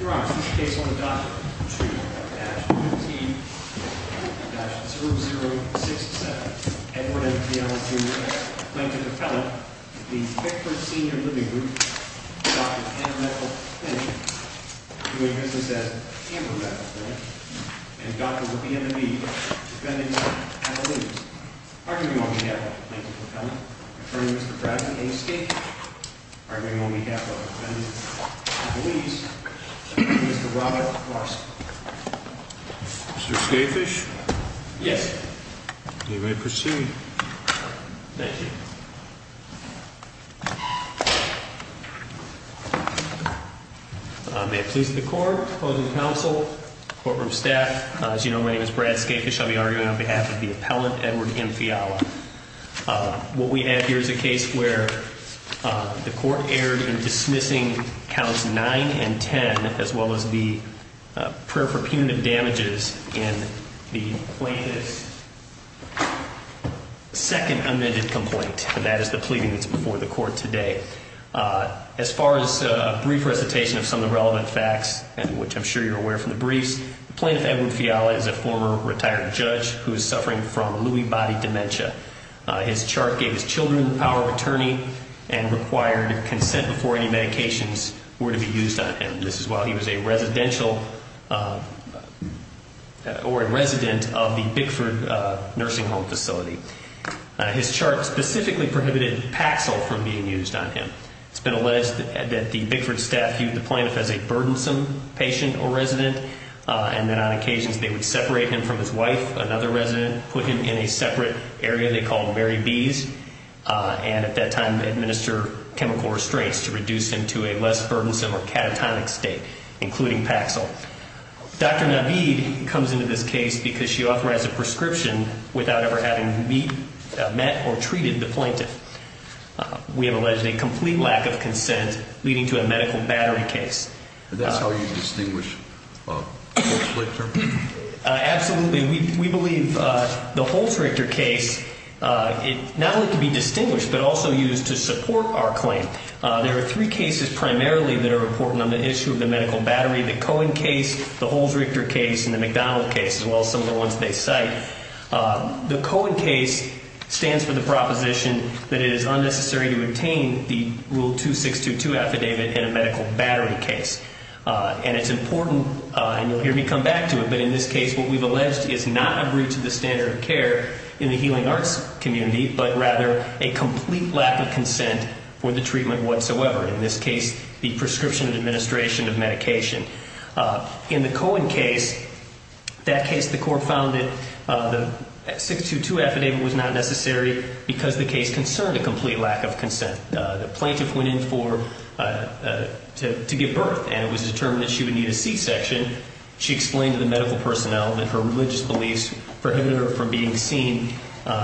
Your Honor, this is the case on the docket 2-UT-0067, Edward A. Fiala v. Bickford Senior Living Group, Plaintiff Appellant, the Bickford Senior Living Group, and Dr. Whoopi M. Mead, defendant, Appellees. Arguing on behalf of Plaintiff Appellant, Attorney Mr. Bradley A. Skate, arguing on behalf of the defendant, Appellees, Mr. Robert Larson. Mr. Skatefish? Yes. You may proceed. Thank you. May it please the court, opposing counsel, courtroom staff, as you know, my name is Brad Skatefish. I'll be arguing on behalf of the appellant, Edward M. Fiala. What we have here is a case where the court erred in dismissing counts 9 and 10, as well as the prayer for punitive damages in the plaintiff's second amended complaint, and that is the pleading that's before the court today. As far as a brief recitation of some of the relevant facts, which I'm sure you're aware from the briefs, the plaintiff, Edward Fiala, is a former retired judge who is suffering from Lewy Body Dementia. His chart gave his children the power of attorney and required consent before any medications were to be used on him. This is while he was a residential or a resident of the Bickford Nursing Home Facility. His chart specifically prohibited Paxil from being used on him. It's been alleged that the Bickford staff viewed the plaintiff as a burdensome patient or resident, and that on occasions they would separate him from his wife, another resident, put him in a separate area they called Mary B's, and at that time administer chemical restraints to reduce him to a less burdensome or catatonic state, including Paxil. Dr. Naveed comes into this case because she authorized a prescription without ever having met or treated the plaintiff. We have alleged a complete lack of consent, leading to a medical battery case. And that's how you distinguish Holts-Richter? Absolutely. We believe the Holts-Richter case not only can be distinguished but also used to support our claim. There are three cases primarily that are important on the issue of the medical battery, the Cohen case, the Holts-Richter case, and the McDonald case, as well as some of the ones they cite. The Cohen case stands for the proposition that it is unnecessary to obtain the Rule 2622 affidavit in a medical battery case. And it's important, and you'll hear me come back to it, but in this case what we've alleged is not a breach of the standard of care in the healing arts community, but rather a complete lack of consent for the treatment whatsoever, in this case the prescription administration of medication. In the Cohen case, that case the court found that the 622 affidavit was not necessary because the case concerned a complete lack of consent. The plaintiff went in to give birth, and it was determined that she would need a C-section. She explained to the medical personnel that her religious beliefs prohibited her from being seen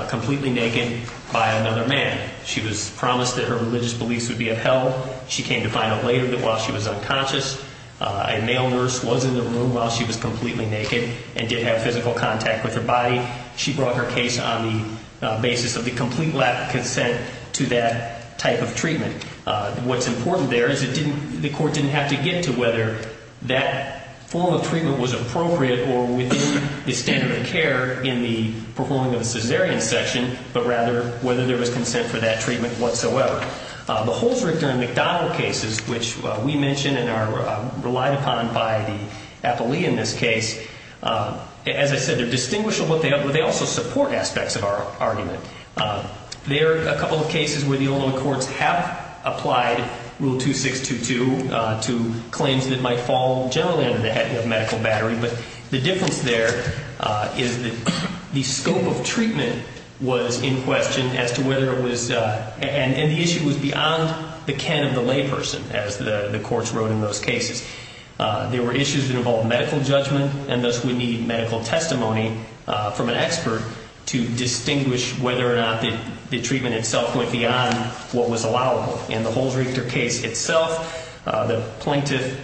completely naked by another man. She was promised that her religious beliefs would be upheld. She came to find out later that while she was unconscious, a male nurse was in the room while she was completely naked and did have physical contact with her body. She brought her case on the basis of the complete lack of consent to that type of treatment. What's important there is the court didn't have to get to whether that form of treatment was appropriate or within the standard of care in the performing of the cesarean section, but rather whether there was consent for that treatment whatsoever. The Holzrichter and McDonald cases, which we mentioned and are relied upon by the appellee in this case, as I said, they're distinguishable, but they also support aspects of our argument. There are a couple of cases where the Oldham courts have applied Rule 2622 to claims that might fall generally under the heading of medical battery, but the difference there is that the scope of treatment was in question as to whether it was and the issue was beyond the can of the layperson, as the courts wrote in those cases. There were issues that involved medical judgment, and thus we need medical testimony from an expert to distinguish whether or not the treatment itself went beyond what was allowable. In the Holzrichter case itself, the plaintiff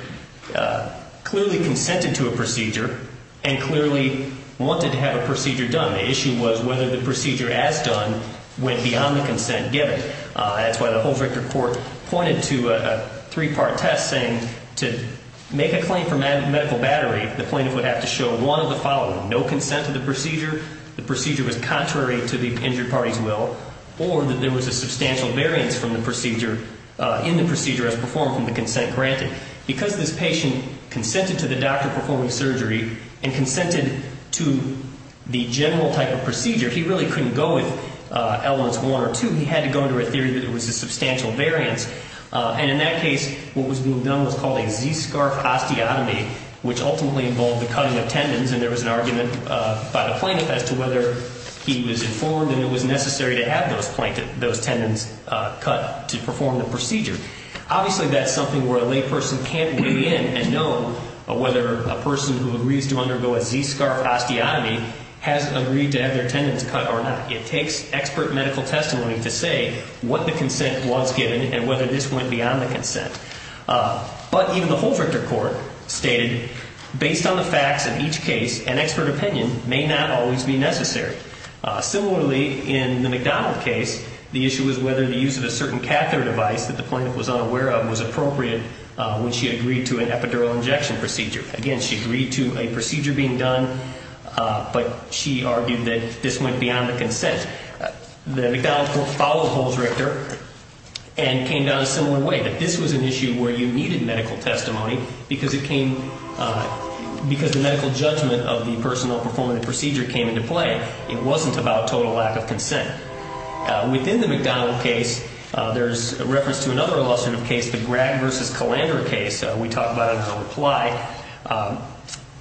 clearly consented to a procedure and clearly wanted to have a procedure done. The issue was whether the procedure as done went beyond the consent given. That's why the Holzrichter court pointed to a three-part test saying to make a claim for medical battery, the plaintiff would have to show one of the following, no consent to the procedure, the procedure was contrary to the injured party's will, or that there was a substantial variance in the procedure as performed from the consent granted. Because this patient consented to the doctor performing surgery and consented to the general type of procedure, he really couldn't go with elements one or two. He had to go into a theory that there was a substantial variance, and in that case what was being done was called a Z-scarf osteotomy, which ultimately involved the cutting of tendons, and there was an argument by the plaintiff as to whether he was informed and it was necessary to have those tendons cut to perform the procedure. Obviously, that's something where a layperson can't weigh in and know whether a person who agrees to undergo a Z-scarf osteotomy has agreed to have their tendons cut or not. It takes expert medical testimony to say what the consent was given and whether this went beyond the consent. But even the Holzrichter court stated, based on the facts of each case, an expert opinion may not always be necessary. Similarly, in the McDonald case, the issue was whether the use of a certain catheter device that the plaintiff was unaware of was appropriate when she agreed to an epidural injection procedure. Again, she agreed to a procedure being done, but she argued that this went beyond the consent. The McDonald court followed Holzrichter and came down a similar way, that this was an issue where you needed medical testimony because the medical judgment of the person not performing the procedure came into play. It wasn't about total lack of consent. Within the McDonald case, there's a reference to another illustrative case, the Gragg v. Calandra case. We talk about it in the reply.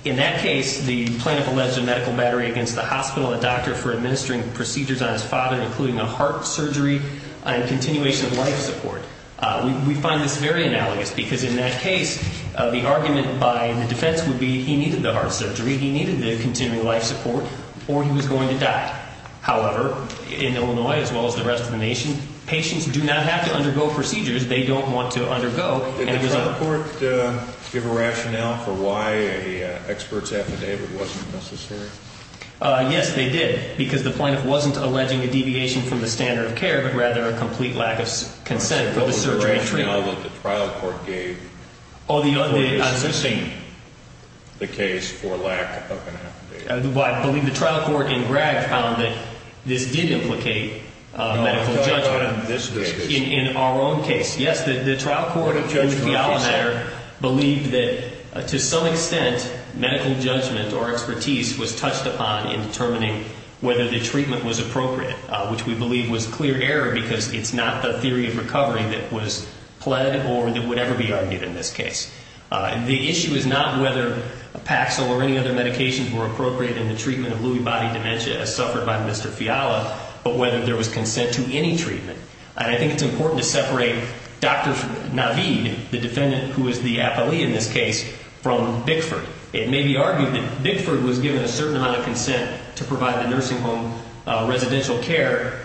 In that case, the plaintiff alleged a medical battery against the hospital, a doctor for administering procedures on his father, including a heart surgery and continuation of life support. We find this very analogous because in that case, the argument by the defense would be he needed the heart surgery, he needed the continuing life support, or he was going to die. However, in Illinois, as well as the rest of the nation, patients do not have to undergo procedures they don't want to undergo. Did the trial court give a rationale for why an expert's affidavit wasn't necessary? Yes, they did, because the plaintiff wasn't alleging a deviation from the standard of care, but rather a complete lack of consent for the surgery and treatment. Was there a rationale that the trial court gave for the absence of the case for lack of an affidavit? I believe the trial court in Gragg found that this did implicate medical judgment in our own case. Yes, the trial court in Fiala matter believed that to some extent medical judgment or expertise was touched upon in determining whether the treatment was appropriate, which we believe was clear error because it's not the theory of recovery that was pled or that would ever be argued in this case. The issue is not whether Paxil or any other medications were appropriate in the treatment of Lewy body dementia as suffered by Mr. Fiala, but whether there was consent to any treatment. And I think it's important to separate Dr. Naveed, the defendant who is the appellee in this case, from Bickford. It may be argued that Bickford was given a certain amount of consent to provide the nursing home residential care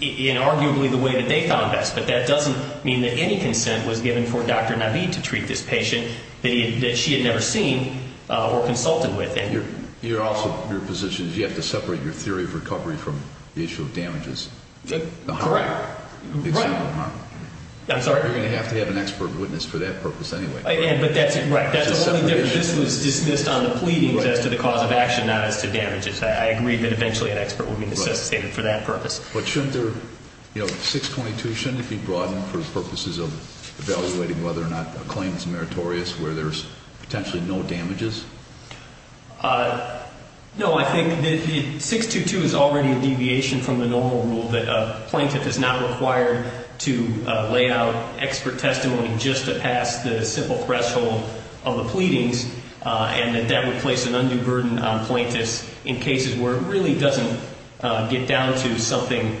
in arguably the way that they found best, but that doesn't mean that any consent was given for Dr. Naveed to treat this patient that she had never seen or consulted with. Your position is you have to separate your theory of recovery from the issue of damages. Correct. Right. I'm sorry? You're going to have to have an expert witness for that purpose anyway. Right. But that's the only difference. This was dismissed on the pleadings as to the cause of action, not as to damages. I agree that eventually an expert would be necessitated for that purpose. But shouldn't there, you know, 622, shouldn't it be brought in for purposes of evaluating whether or not a claim is meritorious where there's potentially no damages? No, I think that 622 is already a deviation from the normal rule that a plaintiff is not required to lay out expert testimony just to pass the simple threshold of the pleadings, and that that would place an undue burden on plaintiffs in cases where it really doesn't get down to something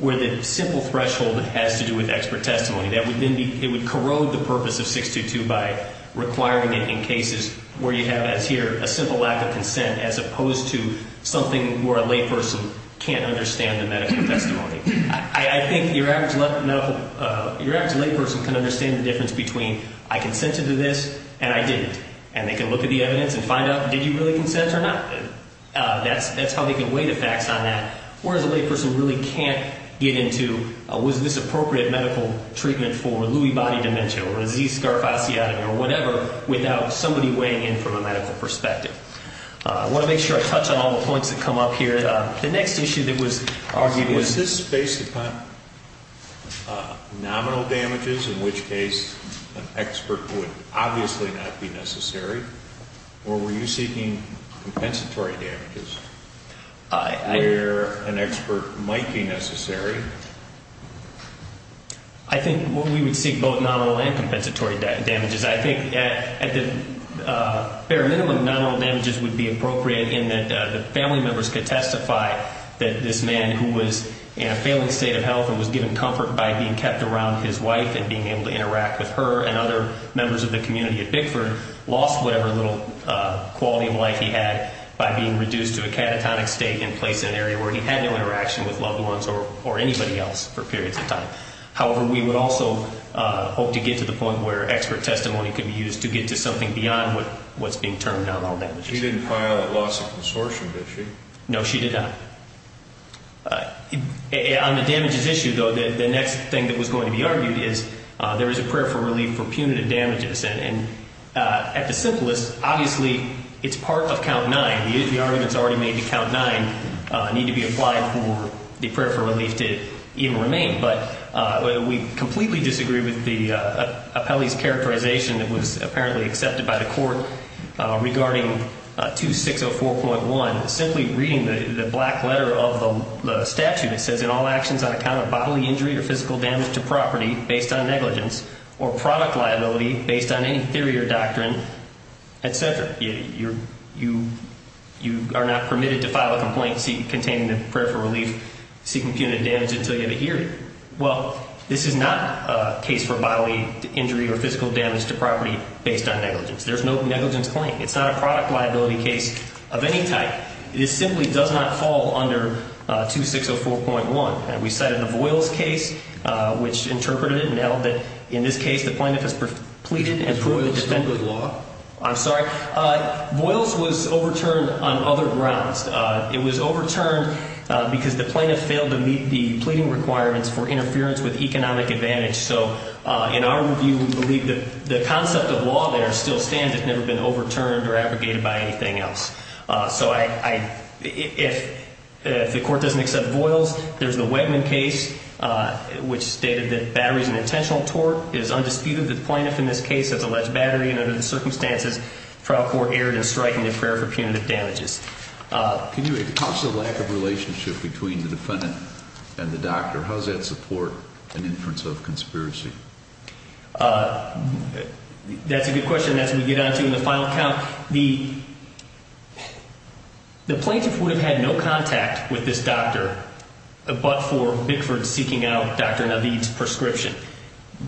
where the simple threshold has to do with expert testimony. It would corrode the purpose of 622 by requiring it in cases where you have, as here, a simple lack of consent as opposed to something where a layperson can't understand the medical testimony. I think your average layperson can understand the difference between I consented to this and I didn't. And they can look at the evidence and find out, did you really consent or not? That's how they can weigh the facts on that. Whereas a layperson really can't get into, was this appropriate medical treatment for Lewy body dementia or disease scarf osteotomy or whatever without somebody weighing in from a medical perspective. I want to make sure I touch on all the points that come up here. The next issue that was argued was this based upon nominal damages, in which case an expert would obviously not be necessary, or were you seeking compensatory damages where an expert might be necessary? I think we would seek both nominal and compensatory damages. I think at the bare minimum, nominal damages would be appropriate in that the family members could testify that this man who was in a failing state of health and was given comfort by being kept around his wife and being able to interact with her and other members of the community at Bickford lost whatever little quality of life he had by being reduced to a catatonic state and placed in an area where he had no interaction with loved ones or anybody else for periods of time. However, we would also hope to get to the point where expert testimony could be used to get to something beyond what's being termed nominal damages. She didn't file a loss of consortium issue. No, she did not. On the damages issue, though, the next thing that was going to be argued is there is a prayer for relief for punitive damages. And at the simplest, obviously, it's part of Count 9. The arguments already made to Count 9 need to be applied for the prayer for relief to even remain. But we completely disagree with the appellee's characterization that was apparently accepted by the court regarding 2604.1. Simply reading the black letter of the statute, it says, in all actions on account of bodily injury or physical damage to property based on negligence or product liability based on any theory or doctrine, et cetera. You are not permitted to file a complaint containing the prayer for relief seeking punitive damage until you have adhered. Well, this is not a case for bodily injury or physical damage to property based on negligence. There's no negligence claim. It's not a product liability case of any type. It simply does not fall under 2604.1. We cited the Voiles case, which interpreted it and held that, in this case, the plaintiff has pleaded and proven to defend the law. I'm sorry. Voiles was overturned on other grounds. It was overturned because the plaintiff failed to meet the pleading requirements for interference with economic advantage. So in our review, we believe that the concept of law there still stands. It's never been overturned or abrogated by anything else. So if the court doesn't accept Voiles, there's the Wegman case, which stated that battery is an intentional tort. It is undisputed that the plaintiff in this case has alleged battery, and under the circumstances, trial court erred in striking the prayer for punitive damages. Can you talk to the lack of relationship between the defendant and the doctor? How does that support an inference of conspiracy? That's a good question. That's what we get onto in the final count. The plaintiff would have had no contact with this doctor but for Bickford seeking out Dr. Naveed's prescription.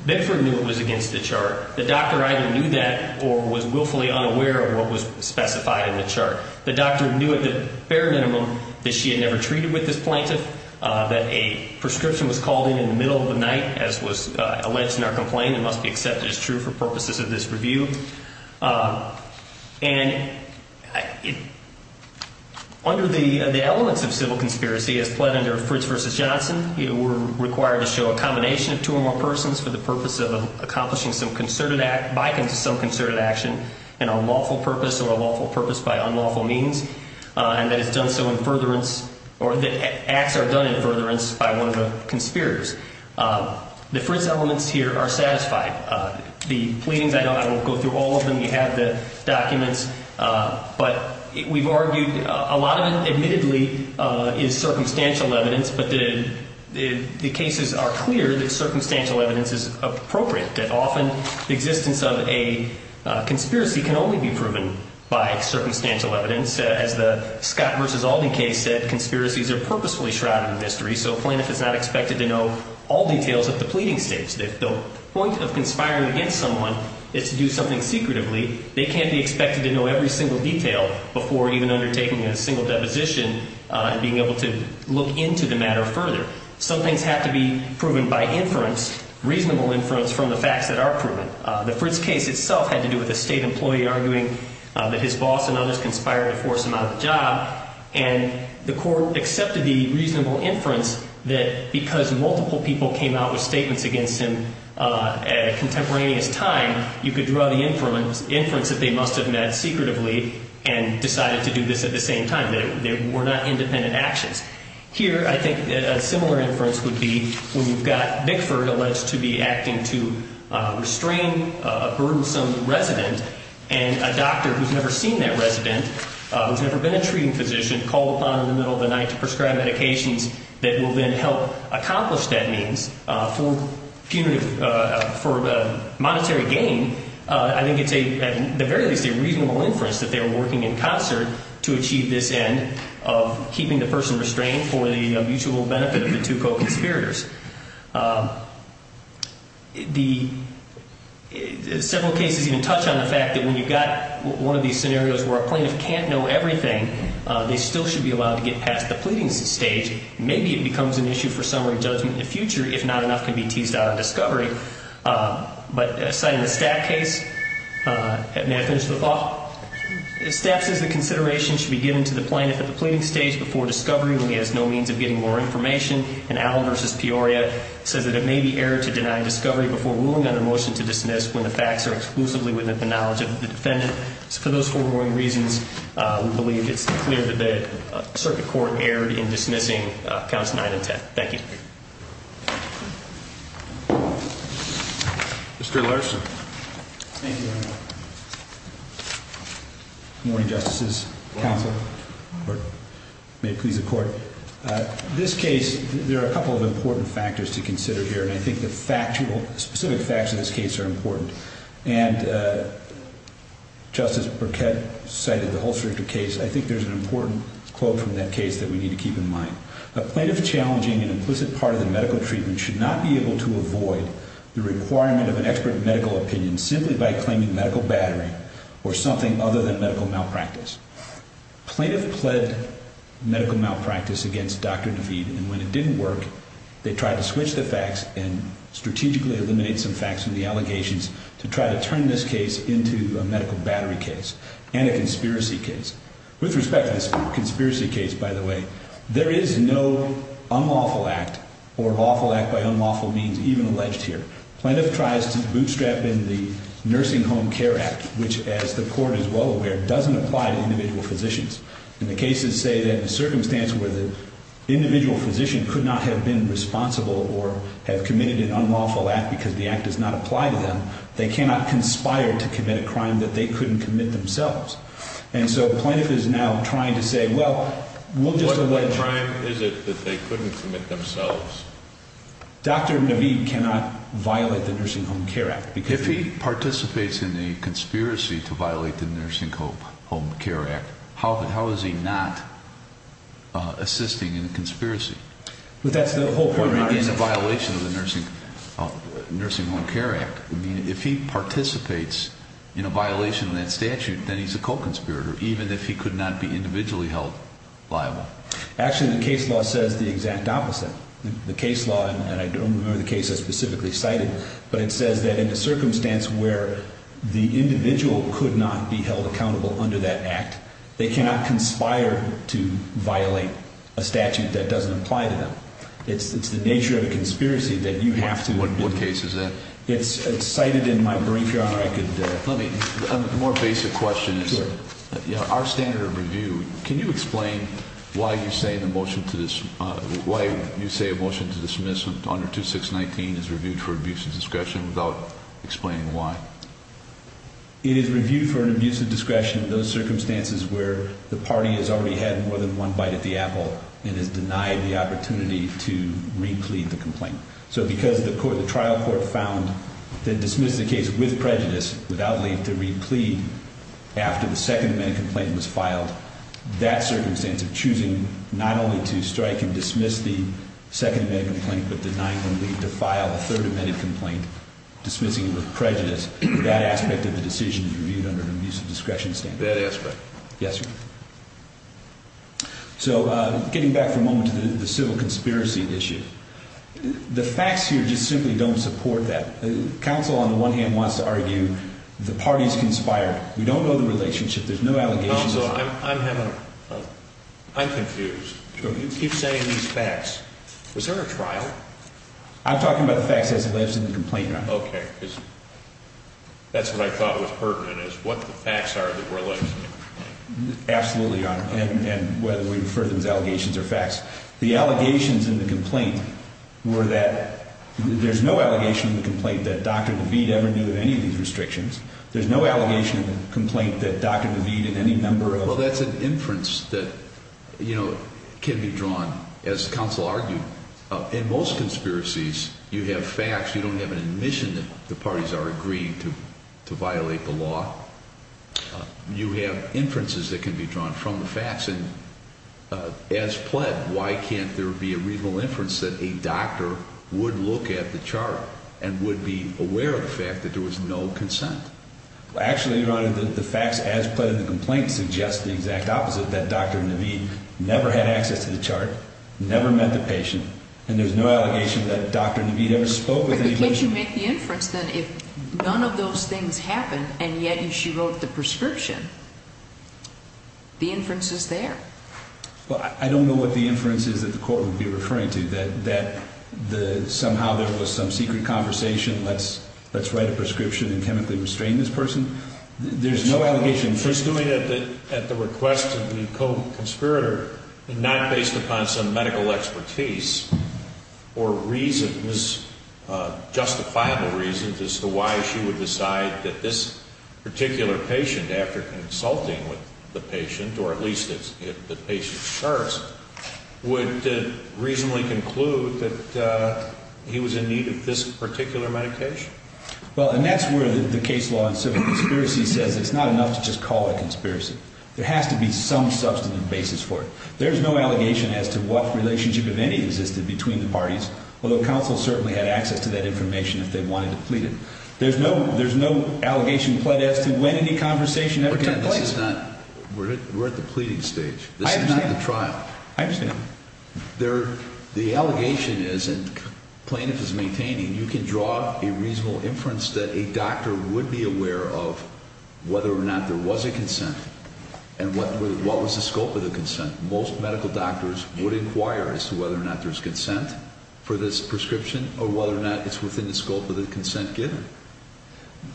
Bickford knew it was against the chart. The doctor either knew that or was willfully unaware of what was specified in the chart. The doctor knew at the bare minimum that she had never treated with this plaintiff, that a prescription was called in in the middle of the night as was alleged in our complaint and must be accepted as true for purposes of this review. And under the elements of civil conspiracy, as pled under Fritz v. Johnson, you were required to show a combination of two or more persons for the purpose of accomplishing some concerted act, an unlawful purpose or a lawful purpose by unlawful means, and that acts are done in furtherance by one of the conspirators. The Fritz elements here are satisfied. The pleadings, I won't go through all of them. You have the documents. But we've argued a lot of it admittedly is circumstantial evidence, but the cases are clear that circumstantial evidence is appropriate, that often the existence of a conspiracy can only be proven by circumstantial evidence. As the Scott v. Alden case said, conspiracies are purposefully shrouded in mystery, so a plaintiff is not expected to know all details at the pleading stage. The point of conspiring against someone is to do something secretively. They can't be expected to know every single detail before even undertaking a single deposition and being able to look into the matter further. Some things have to be proven by inference, reasonable inference from the facts that are proven. The Fritz case itself had to do with a state employee arguing that his boss and others conspired to force him out of a job, and the court accepted the reasonable inference that because multiple people came out with statements against him at a contemporaneous time, you could draw the inference that they must have met secretively and decided to do this at the same time. They were not independent actions. Here, I think a similar inference would be when you've got Bickford alleged to be acting to restrain a burdensome resident and a doctor who's never seen that resident, who's never been a treating physician, called upon in the middle of the night to prescribe medications that will then help accomplish that means. For monetary gain, I think it's at the very least a reasonable inference that they were working in concert to achieve this end of keeping the person restrained for the mutual benefit of the two co-conspirators. Several cases even touch on the fact that when you've got one of these scenarios where a plaintiff can't know everything, they still should be allowed to get past the pleading stage. Maybe it becomes an issue for summary judgment in the future, if not enough can be teased out of discovery. But citing the Stapp case, may I finish the thought? Stapp says the consideration should be given to the plaintiff at the pleading stage before discovery when he has no means of getting more information, and Allen v. Peoria says that it may be error to deny discovery before ruling on a motion to dismiss when the facts are exclusively within the knowledge of the defendant. For those foregoing reasons, we believe it's clear that the circuit court erred in dismissing counts 9 and 10. Thank you. Mr. Larson. Thank you, Your Honor. Good morning, Justices. Good morning. May it please the Court. This case, there are a couple of important factors to consider here, and I think the specific facts of this case are important. And Justice Burkett cited the Holst-Richter case. I think there's an important quote from that case that we need to keep in mind. A plaintiff challenging an implicit part of the medical treatment should not be able to avoid the requirement of an expert medical opinion simply by claiming medical battery or something other than medical malpractice. Plaintiff pled medical malpractice against Dr. DeVete, and when it didn't work, they tried to switch the facts and strategically eliminate some facts from the allegations to try to turn this case into a medical battery case and a conspiracy case. With respect to this conspiracy case, by the way, there is no unlawful act or lawful act by unlawful means even alleged here. Plaintiff tries to bootstrap in the Nursing Home Care Act, which, as the Court is well aware, doesn't apply to individual physicians. And the cases say that in a circumstance where the individual physician could not have been responsible or have committed an unlawful act because the act does not apply to them, they cannot conspire to commit a crime that they couldn't commit themselves. And so Plaintiff is now trying to say, well, we'll just allege... What crime is it that they couldn't commit themselves? Dr. DeVete cannot violate the Nursing Home Care Act because... If he participates in a conspiracy to violate the Nursing Home Care Act, how is he not assisting in a conspiracy? But that's the whole point of the argument. In a violation of the Nursing Home Care Act. If he participates in a violation of that statute, then he's a co-conspirator, even if he could not be individually held liable. Actually, the case law says the exact opposite. The case law, and I don't remember the case I specifically cited, but it says that in a circumstance where the individual could not be held accountable under that act, they cannot conspire to violate a statute that doesn't apply to them. It's the nature of a conspiracy that you have to... What case is that? It's cited in my brief, Your Honor. A more basic question is, our standard of review, can you explain why you say a motion to dismiss under 2619 is reviewed for abuse of discretion without explaining why? It is reviewed for an abuse of discretion in those circumstances where the party has already had more than one bite at the apple and is denied the opportunity to re-plead the complaint. So because the trial court found that dismissing the case with prejudice, without the need to re-plead after the Second Amendment complaint was filed, that circumstance of choosing not only to strike and dismiss the Second Amendment complaint but denying the need to file a Third Amendment complaint, dismissing it with prejudice, that aspect of the decision is reviewed under an abuse of discretion standard. That aspect. Yes, sir. So getting back for a moment to the civil conspiracy issue, the facts here just simply don't support that. Counsel on the one hand wants to argue the party's conspired. We don't know the relationship. There's no allegations. Counsel, I'm confused. You keep saying these facts. Was there a trial? I'm talking about the facts as it lives in the complaint, Your Honor. Okay. That's what I thought was pertinent, is what the facts are that were alleged in the complaint. Absolutely, Your Honor. And whether we refer to them as allegations or facts. The allegations in the complaint were that there's no allegation in the complaint that Dr. DeVete ever knew of any of these restrictions. There's no allegation in the complaint that Dr. DeVete and any member of the Well, that's an inference that, you know, can be drawn, as counsel argued. In most conspiracies, you have facts. You don't have an admission that the parties are agreeing to violate the law. You have inferences that can be drawn from the facts. As pled, why can't there be a reasonable inference that a doctor would look at the chart and would be aware of the fact that there was no consent? Actually, Your Honor, the facts as pled in the complaint suggest the exact opposite, that Dr. DeVete never had access to the chart, never met the patient, and there's no allegation that Dr. DeVete ever spoke with anybody. But if you make the inference, then if none of those things happened, and yet she wrote the prescription, the inference is there. Well, I don't know what the inference is that the court would be referring to, that somehow there was some secret conversation, let's write a prescription and chemically restrain this person. There's no allegation. She's doing it at the request of the co-conspirator and not based upon some medical expertise or reason, justifiable reasons as to why she would decide that this particular patient, after consulting with the patient, or at least if the patient serves, would reasonably conclude that he was in need of this particular medication. Well, and that's where the case law in civil conspiracy says it's not enough to just call it conspiracy. There has to be some substantive basis for it. There's no allegation as to what relationship, if any, existed between the parties, although counsel certainly had access to that information if they wanted to plead it. There's no allegation pled as to when any conversation ever took place. We're at the pleading stage. This is not the trial. I understand. The allegation is, and plaintiff is maintaining, you can draw a reasonable inference that a doctor would be aware of whether or not there was a consent and what was the scope of the consent. Most medical doctors would inquire as to whether or not there's consent for this prescription or whether or not it's within the scope of the consent given.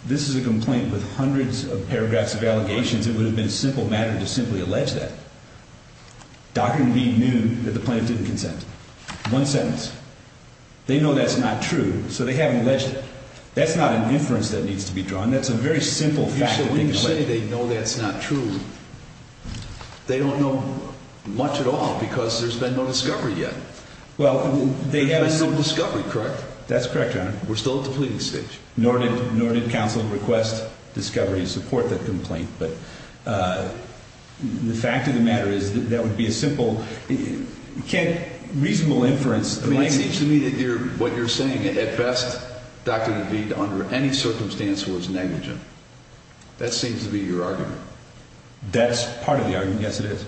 This is a complaint with hundreds of paragraphs of allegations. It would have been a simple matter to simply allege that. Doctor indeed knew that the plaintiff didn't consent. One sentence. They know that's not true, so they haven't alleged it. That's not an inference that needs to be drawn. That's a very simple fact. When you say they know that's not true, they don't know much at all because there's been no discovery yet. There's been no discovery, correct? That's correct, Your Honor. We're still at the pleading stage. Nor did counsel request discovery to support the complaint. But the fact of the matter is that would be a simple, reasonable inference. It seems to me that what you're saying, at best, Doctor DeVete, under any circumstance, was negligent. That seems to be your argument. That's part of the argument. Yes, it is.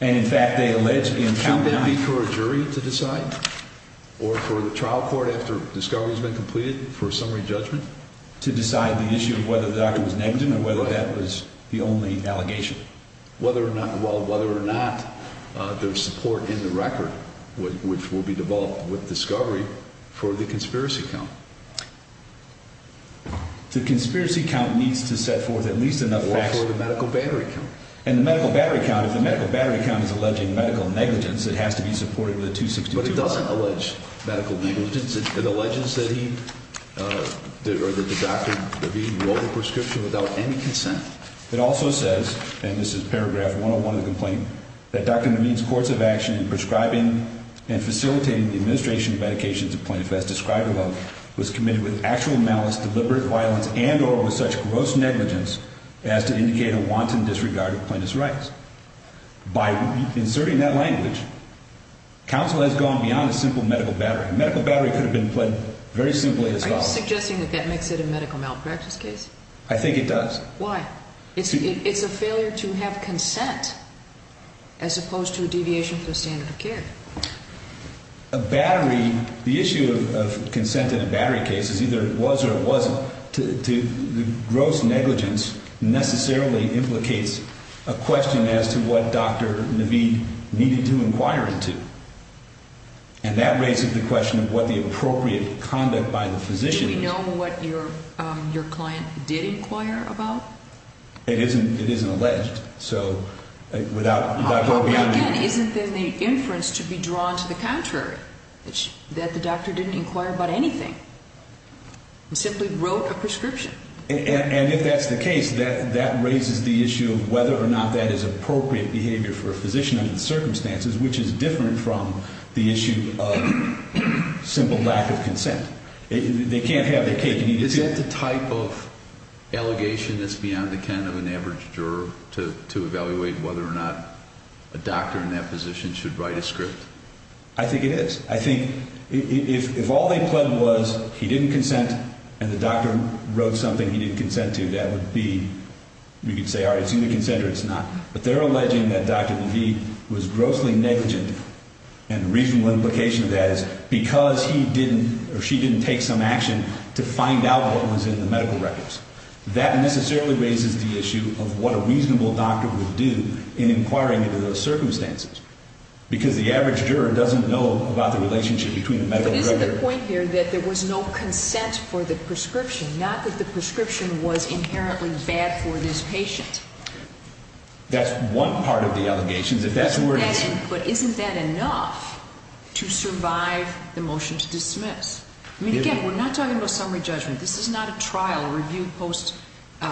And, in fact, they allege in count nine. Shouldn't it be for a jury to decide or for the trial court after discovery has been completed for a summary judgment to decide the issue of whether the doctor was negligent or whether that was the only allegation? Well, whether or not there's support in the record, which will be developed with discovery, for the conspiracy count. The conspiracy count needs to set forth at least enough facts. Or for the medical battery count. And the medical battery count, if the medical battery count is alleging medical negligence, it has to be supported with a 262. But it doesn't allege medical negligence. It alleges that he or that the doctor, DeVete, wrote the prescription without any consent. It also says, and this is paragraph 101 of the complaint, that Doctor DeVete's course of action in prescribing and facilitating the administration of medications of plaintiff as described above was committed with actual malice, deliberate violence, and or with such gross negligence as to indicate a wanton disregard of plaintiff's rights. By inserting that language, counsel has gone beyond a simple medical battery. A medical battery could have been put very simply as follows. Are you suggesting that that makes it a medical malpractice case? I think it does. Why? It's a failure to have consent as opposed to a deviation from the standard of care. A battery, the issue of consent in a battery case is either it was or it wasn't. The gross negligence necessarily implicates a question as to what Doctor DeVete needed to inquire into. And that raises the question of what the appropriate conduct by the physician is. Do you know what your client did inquire about? It isn't alleged, so without going beyond that. Again, isn't there the inference to be drawn to the contrary, that the doctor didn't inquire about anything? He simply wrote a prescription. And if that's the case, that raises the issue of whether or not that is appropriate behavior for a physician under the circumstances, which is different from the issue of simple lack of consent. They can't have their cake and eat it. Is that the type of allegation that's beyond the kind of an average juror to evaluate whether or not a doctor in that position should write a script? I think it is. I think if all they pled was he didn't consent and the doctor wrote something he didn't consent to, that would be, you could say, all right, it's either consent or it's not. But they're alleging that Doctor DeVete was grossly negligent. And the reasonable implication of that is because he didn't or she didn't take some action to find out what was in the medical records. That necessarily raises the issue of what a reasonable doctor would do in inquiring into those circumstances, because the average juror doesn't know about the relationship between the medical records. But isn't the point here that there was no consent for the prescription, not that the prescription was inherently bad for this patient? That's one part of the allegations. But isn't that enough to survive the motion to dismiss? I mean, again, we're not talking about summary judgment. This is not a trial review post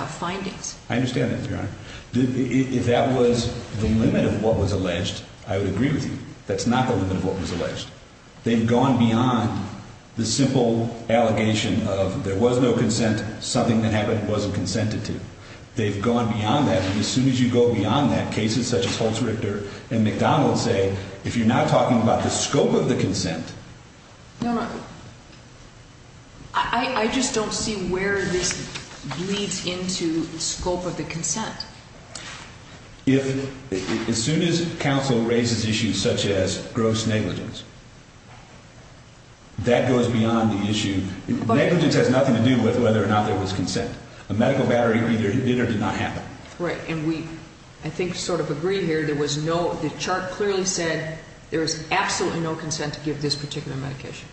findings. I understand that, Your Honor. If that was the limit of what was alleged, I would agree with you. That's not the limit of what was alleged. They've gone beyond the simple allegation of there was no consent, something that happened wasn't consented to. They've gone beyond that. And as soon as you go beyond that, cases such as Holtz-Richter and McDonald say, if you're not talking about the scope of the consent. No, no. I just don't see where this bleeds into the scope of the consent. If as soon as counsel raises issues such as gross negligence, that goes beyond the issue. Negligence has nothing to do with whether or not there was consent. A medical battery either did or did not happen. Right. And we, I think, sort of agree here. There was no, the chart clearly said there was absolutely no consent to give this particular medication.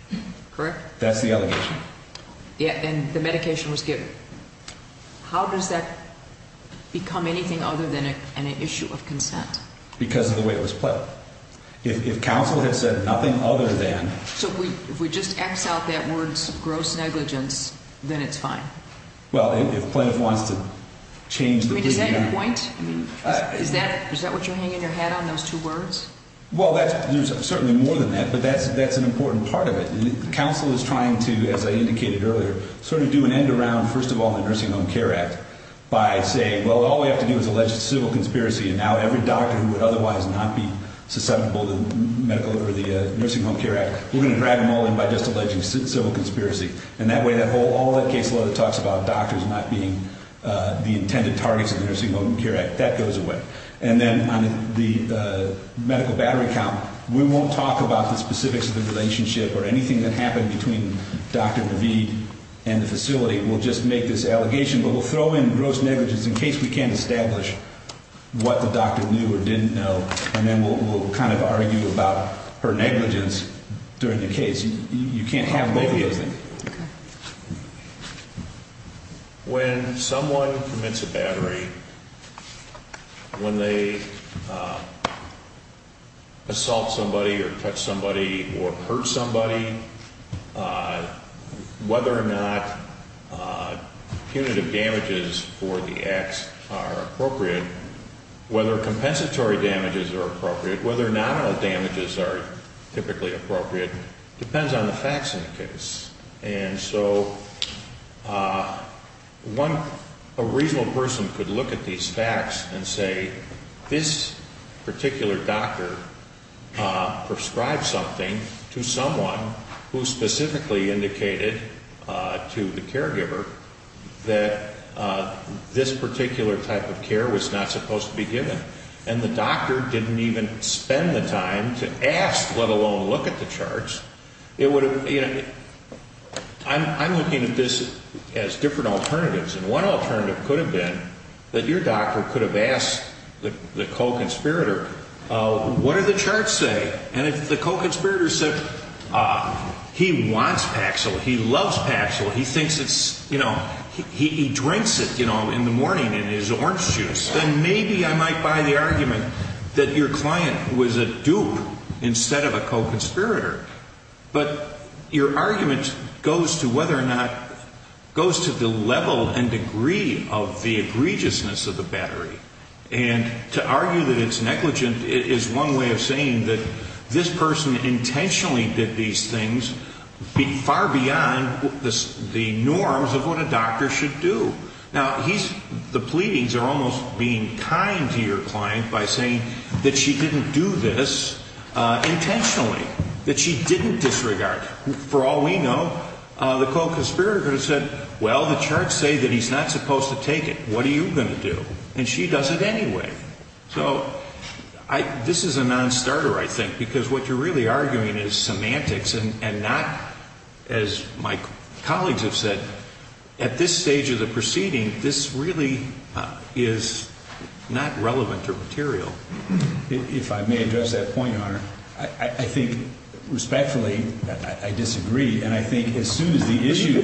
Correct? That's the allegation. Yeah. And the medication was given. How does that become anything other than an issue of consent? Because of the way it was played. If counsel had said nothing other than. So if we just X out that word gross negligence, then it's fine. Well, if plaintiff wants to change. Is that your point? Is that what you're hanging your hat on, those two words? Well, there's certainly more than that, but that's an important part of it. And counsel is trying to, as I indicated earlier, sort of do an end around, first of all, the Nursing Home Care Act by saying, well, all we have to do is allege a civil conspiracy, and now every doctor who would otherwise not be susceptible to the Nursing Home Care Act, we're going to drag them all in by just alleging civil conspiracy. And that way, all that case law that talks about doctors not being the intended targets of the Nursing Home Care Act, that goes away. And then on the medical battery count, we won't talk about the specifics of the relationship or anything that happened between Dr. Naveed and the facility. We'll just make this allegation, but we'll throw in gross negligence in case we can't establish what the doctor knew or didn't know, and then we'll kind of argue about her negligence during the case. You can't have both of those things. Okay. When someone commits a battery, when they assault somebody or touch somebody or hurt somebody, whether or not punitive damages for the acts are appropriate, whether compensatory damages are appropriate, whether nominal damages are typically appropriate depends on the facts in the case. And so a reasonable person could look at these facts and say, this particular doctor prescribed something to someone who specifically indicated to the caregiver that this particular type of care was not supposed to be given. And the doctor didn't even spend the time to ask, let alone look at the charts. I'm looking at this as different alternatives. And one alternative could have been that your doctor could have asked the co-conspirator, what did the charts say? And if the co-conspirator said, he wants Paxil, he loves Paxil, he thinks it's, you know, he drinks it, you know, in the morning in his orange juice, then maybe I might buy the argument that your client was a dupe instead of a co-conspirator. But your argument goes to whether or not, goes to the level and degree of the egregiousness of the battery. And to argue that it's negligent is one way of saying that this person intentionally did these things, far beyond the norms of what a doctor should do. Now, the pleadings are almost being kind to your client by saying that she didn't do this intentionally, that she didn't disregard. For all we know, the co-conspirator could have said, well, the charts say that he's not supposed to take it. What are you going to do? And she does it anyway. So this is a non-starter, I think, because what you're really arguing is semantics and not, as my colleagues have said, at this stage of the proceeding, this really is not relevant or material. If I may address that point, Your Honor, I think, respectfully, I disagree. And I think as soon as the issue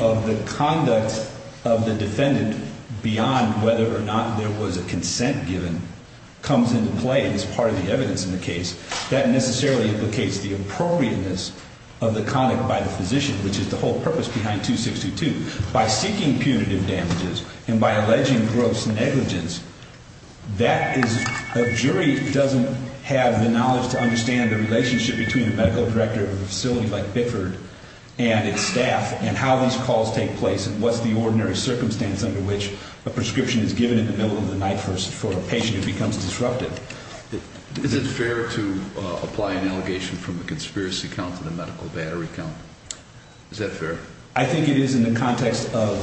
of the conduct of the defendant beyond whether or not there was a consent given comes into play as part of the evidence in the case, that necessarily implicates the appropriateness of the conduct by the physician, which is the whole purpose behind 2622. By seeking punitive damages and by alleging gross negligence, a jury doesn't have the knowledge to understand the relationship between the medical director of a facility like Bickford and its staff and how these calls take place and what's the ordinary circumstance under which a prescription is given in the middle of the night for a patient who becomes disrupted. Is it fair to apply an allegation from a conspiracy count to the medical battery count? Is that fair? I think it is in the context of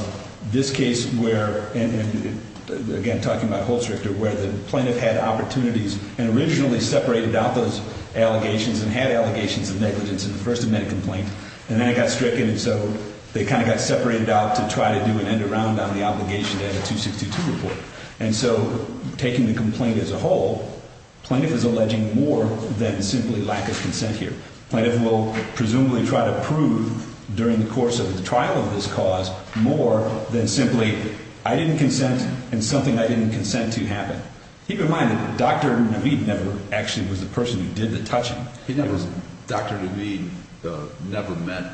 this case where, again, talking about Holstrichter, where the plaintiff had opportunities and originally separated out those allegations and had allegations of negligence in the first amendment complaint. And then it got stricken, and so they kind of got separated out to try to do an end-around on the obligation to add a 2622 report. And so taking the complaint as a whole, plaintiff is alleging more than simply lack of consent here. Plaintiff will presumably try to prove during the course of the trial of this cause more than simply, I didn't consent and something I didn't consent to happened. Keep in mind that Dr. Navid never actually was the person who did the touching. He never was. Dr. Navid never met.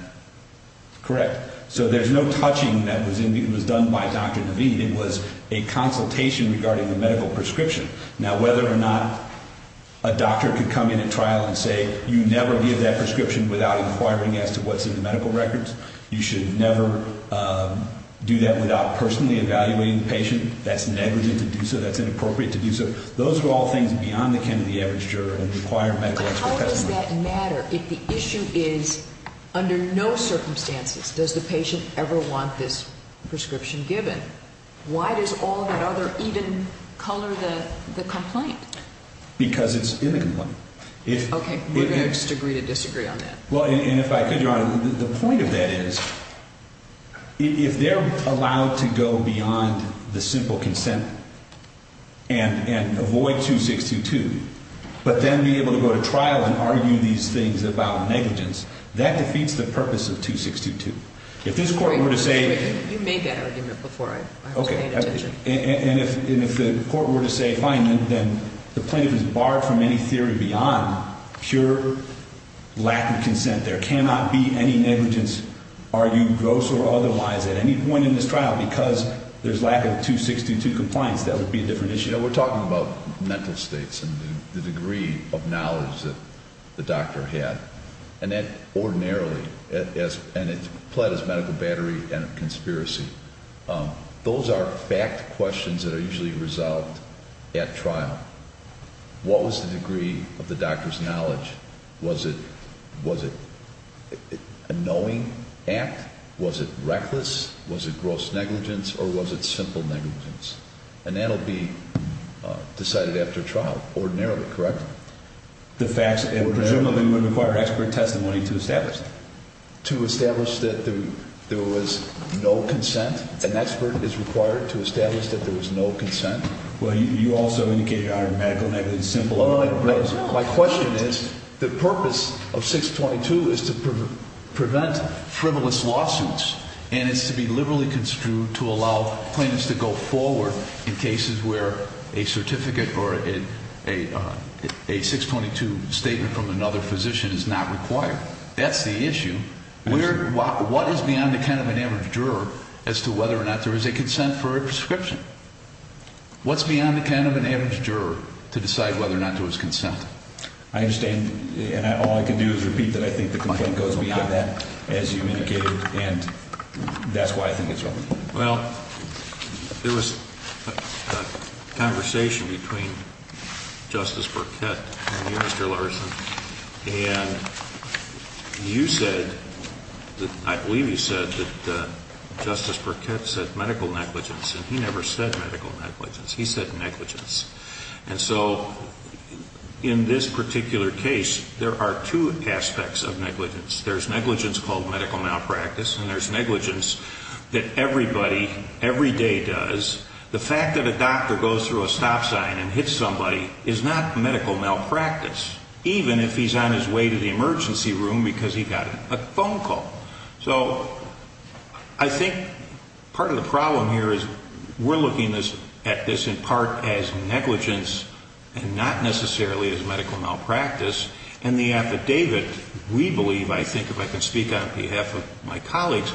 Correct. So there's no touching that was done by Dr. Navid. It was a consultation regarding the medical prescription. Now, whether or not a doctor could come in at trial and say, you never give that prescription without inquiring as to what's in the medical records, you should never do that without personally evaluating the patient, that's negligent to do so. That's inappropriate to do so. Those are all things beyond the Kennedy average juror and require medical expert testimony. But how does that matter if the issue is under no circumstances does the patient ever want this prescription given? Why does all that other even color the complaint? Because it's in the complaint. Okay. We're going to disagree to disagree on that. Well, and if I could, Your Honor, the point of that is if they're allowed to go beyond the simple consent and avoid 2622, but then be able to go to trial and argue these things about negligence, that defeats the purpose of 2622. If this Court were to say – You made that argument before I was paying attention. Okay. And if the Court were to say, fine, then the plaintiff is barred from any theory beyond pure lack of consent. There cannot be any negligence argued gross or otherwise at any point in this trial because there's lack of 2622 compliance. That would be a different issue. You know, we're talking about mental states and the degree of knowledge that the doctor had. And that ordinarily, and it's pled as medical battery and a conspiracy, those are fact questions that are usually resolved at trial. What was the degree of the doctor's knowledge? Was it a knowing act? Was it reckless? Was it gross negligence? Or was it simple negligence? And that will be decided after trial, ordinarily, correct? The facts, presumably, would require expert testimony to establish that. To establish that there was no consent? An expert is required to establish that there was no consent? Well, you also indicated medical negligence, simple negligence. My question is, the purpose of 622 is to prevent frivolous lawsuits and it's to be liberally construed to allow claims to go forward in cases where a certificate or a 622 statement from another physician is not required. That's the issue. What is beyond the kind of an average juror as to whether or not there is a consent for a prescription? What's beyond the kind of an average juror to decide whether or not there was consent? I understand and all I can do is repeat that I think the complaint goes beyond that as you indicated and that's why I think it's relevant. Well, there was a conversation between Justice Burkett and you, Mr. Larson, and you said, I believe you said that Justice Burkett said medical negligence and he never said medical negligence. He said negligence. And so in this particular case, there are two aspects of negligence. There's negligence called medical malpractice and there's negligence that everybody every day does. The fact that a doctor goes through a stop sign and hits somebody is not medical malpractice, even if he's on his way to the emergency room because he got a phone call. So I think part of the problem here is we're looking at this in part as negligence and not necessarily as medical malpractice. And the affidavit, we believe, I think if I can speak on behalf of my colleagues,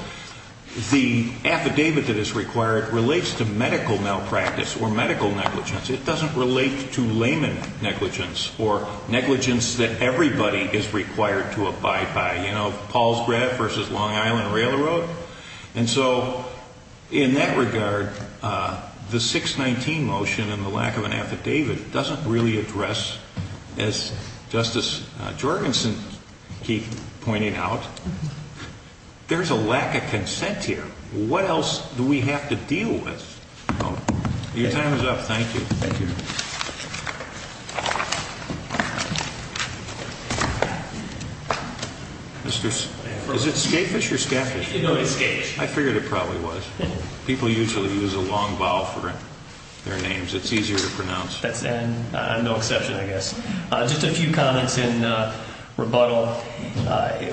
the affidavit that is required relates to medical malpractice or medical negligence. It doesn't relate to layman negligence or negligence that everybody is required to abide by. You know, Paul's Grab versus Long Island Railroad. And so in that regard, the 619 motion and the lack of an affidavit doesn't really address, as Justice Jorgensen keeps pointing out, there's a lack of consent here. What else do we have to deal with? Your time is up. Thank you. Thank you. Is it scaphish or scaphish? No, it's scaphish. I figured it probably was. People usually use a long vowel for their names. It's easier to pronounce. I'm no exception, I guess. Just a few comments in rebuttal.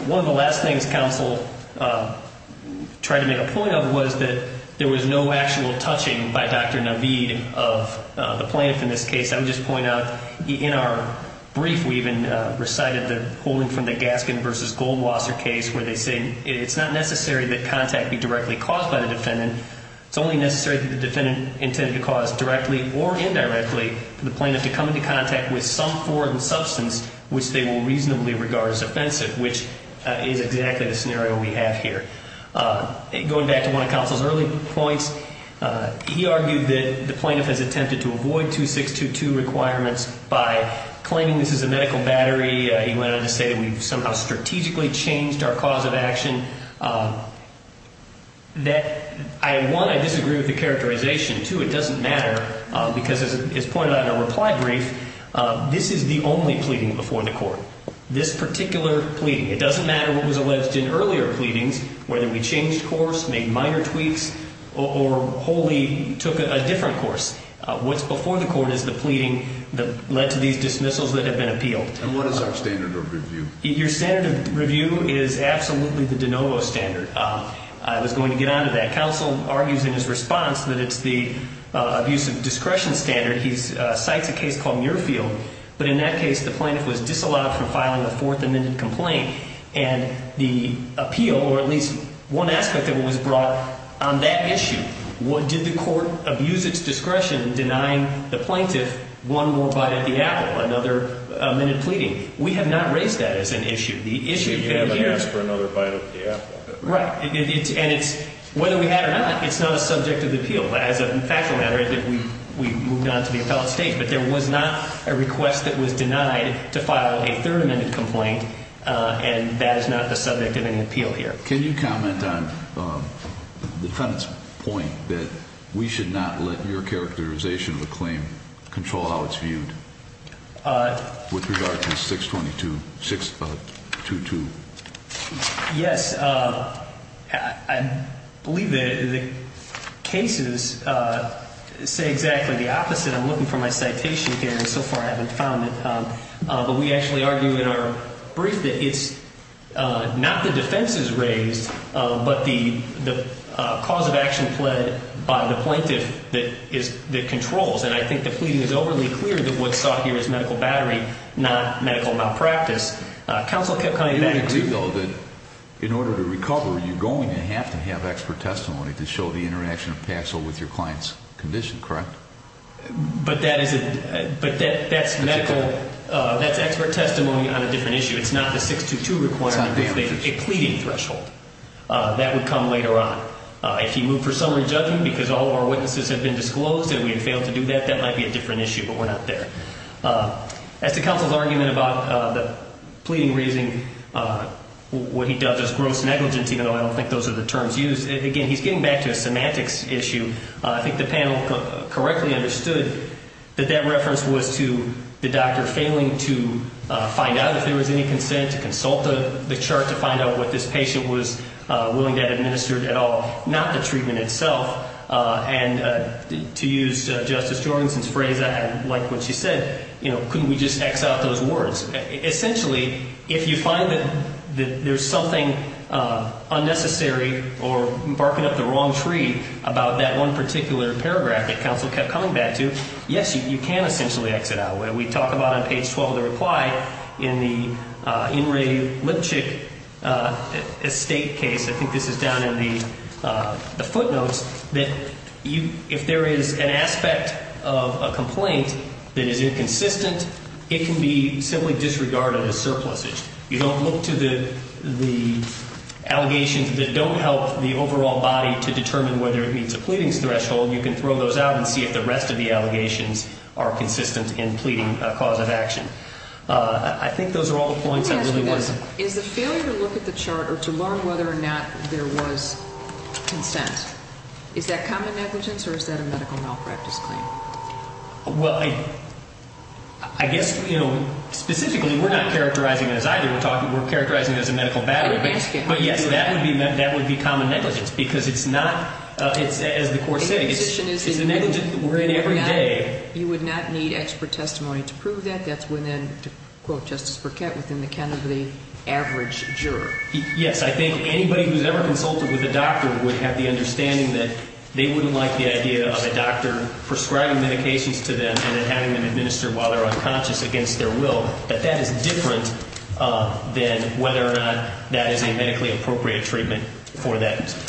One of the last things counsel tried to make a point of was that there was no actual touching by Dr. Naveed of the plaintiff in this case. I would just point out in our brief we even recited the holding from the Gaskin versus Goldwasser case where they say it's not necessary that contact be directly caused by the defendant. It's only necessary that the defendant intended to cause directly or indirectly for the plaintiff to come into contact with some foreign substance which they will reasonably regard as offensive, which is exactly the scenario we have here. Going back to one of counsel's early points, he argued that the plaintiff has attempted to avoid 2622 requirements by claiming this is a medical battery. He went on to say that we've somehow strategically changed our cause of action. One, I disagree with the characterization. Two, it doesn't matter because as is pointed out in our reply brief, this is the only pleading before the court, this particular pleading. It doesn't matter what was alleged in earlier pleadings, whether we changed course, made minor tweaks, or wholly took a different course. What's before the court is the pleading that led to these dismissals that have been appealed. And what is our standard of review? Your standard of review is absolutely the de novo standard. I was going to get onto that. Counsel argues in his response that it's the abuse of discretion standard. He cites a case called Muirfield, but in that case the plaintiff was disallowed from filing a fourth amended complaint. And the appeal, or at least one aspect of it was brought on that issue. Did the court abuse its discretion in denying the plaintiff one more bite at the apple, another amended pleading? We have not raised that as an issue. The issue here is... You haven't asked for another bite at the apple. Right. And it's, whether we had or not, it's not a subject of appeal. As a factual matter, we moved on to the appellate stage, but there was not a request that was denied to file a third amended complaint, and that is not the subject of any appeal here. Can you comment on the defendant's point that we should not let your characterization of a claim control how it's viewed? With regard to 622. Yes. I believe the cases say exactly the opposite. I'm looking for my citation here, and so far I haven't found it. But we actually argue in our brief that it's not the defenses raised, but the cause of action pled by the plaintiff that controls. And I think the pleading is overly clear that what's sought here is medical battery, not medical malpractice. Counsel kept coming back to... In order to recover, you're going to have to have expert testimony to show the interaction of Paxil with your client's condition, correct? But that's medical. That's expert testimony on a different issue. It's not the 622 requirement. It's not damages. It's a pleading threshold. That would come later on. If he moved for summary judging because all of our witnesses have been disclosed and we had failed to do that, that might be a different issue, but we're not there. As to counsel's argument about the pleading raising, what he does is gross negligence, even though I don't think those are the terms used. Again, he's getting back to a semantics issue. I think the panel correctly understood that that reference was to the doctor failing to find out if there was any consent, to consult the chart to find out what this patient was willing to administer at all, not the treatment itself. And to use Justice Jorgenson's phrase, I like what she said, couldn't we just X out those words? Essentially, if you find that there's something unnecessary or barking up the wrong tree about that one particular paragraph that counsel kept coming back to, yes, you can essentially exit out. We talk about on page 12 of the reply in the In re Lipchick estate case, I think this is down in the footnotes, that if there is an aspect of a complaint that is inconsistent, it can be simply disregarded as surpluses. You don't look to the allegations that don't help the overall body to determine whether it meets a pleading threshold. You can throw those out and see if the rest of the allegations are consistent in pleading a cause of action. I think those are all the points. Let me ask you this. Is the failure to look at the chart or to learn whether or not there was consent, is that common negligence or is that a medical malpractice claim? Well, I guess, you know, specifically we're not characterizing it as either. We're talking, we're characterizing it as a medical battery. But, yes, that would be common negligence because it's not, as the court said, it's a negligence that we're in every day. You would not need expert testimony to prove that. That's within, to quote Justice Burkett, within the kind of the average juror. Yes, I think anybody who's ever consulted with a doctor would have the understanding that they wouldn't like the idea of a doctor prescribing medications to them and then having them administer while they're unconscious against their will. But that is different than whether or not that is a medically appropriate treatment for that condition.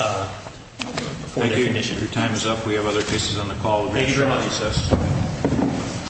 Thank you. Your time is up. We have other cases on the call. Thank you very much.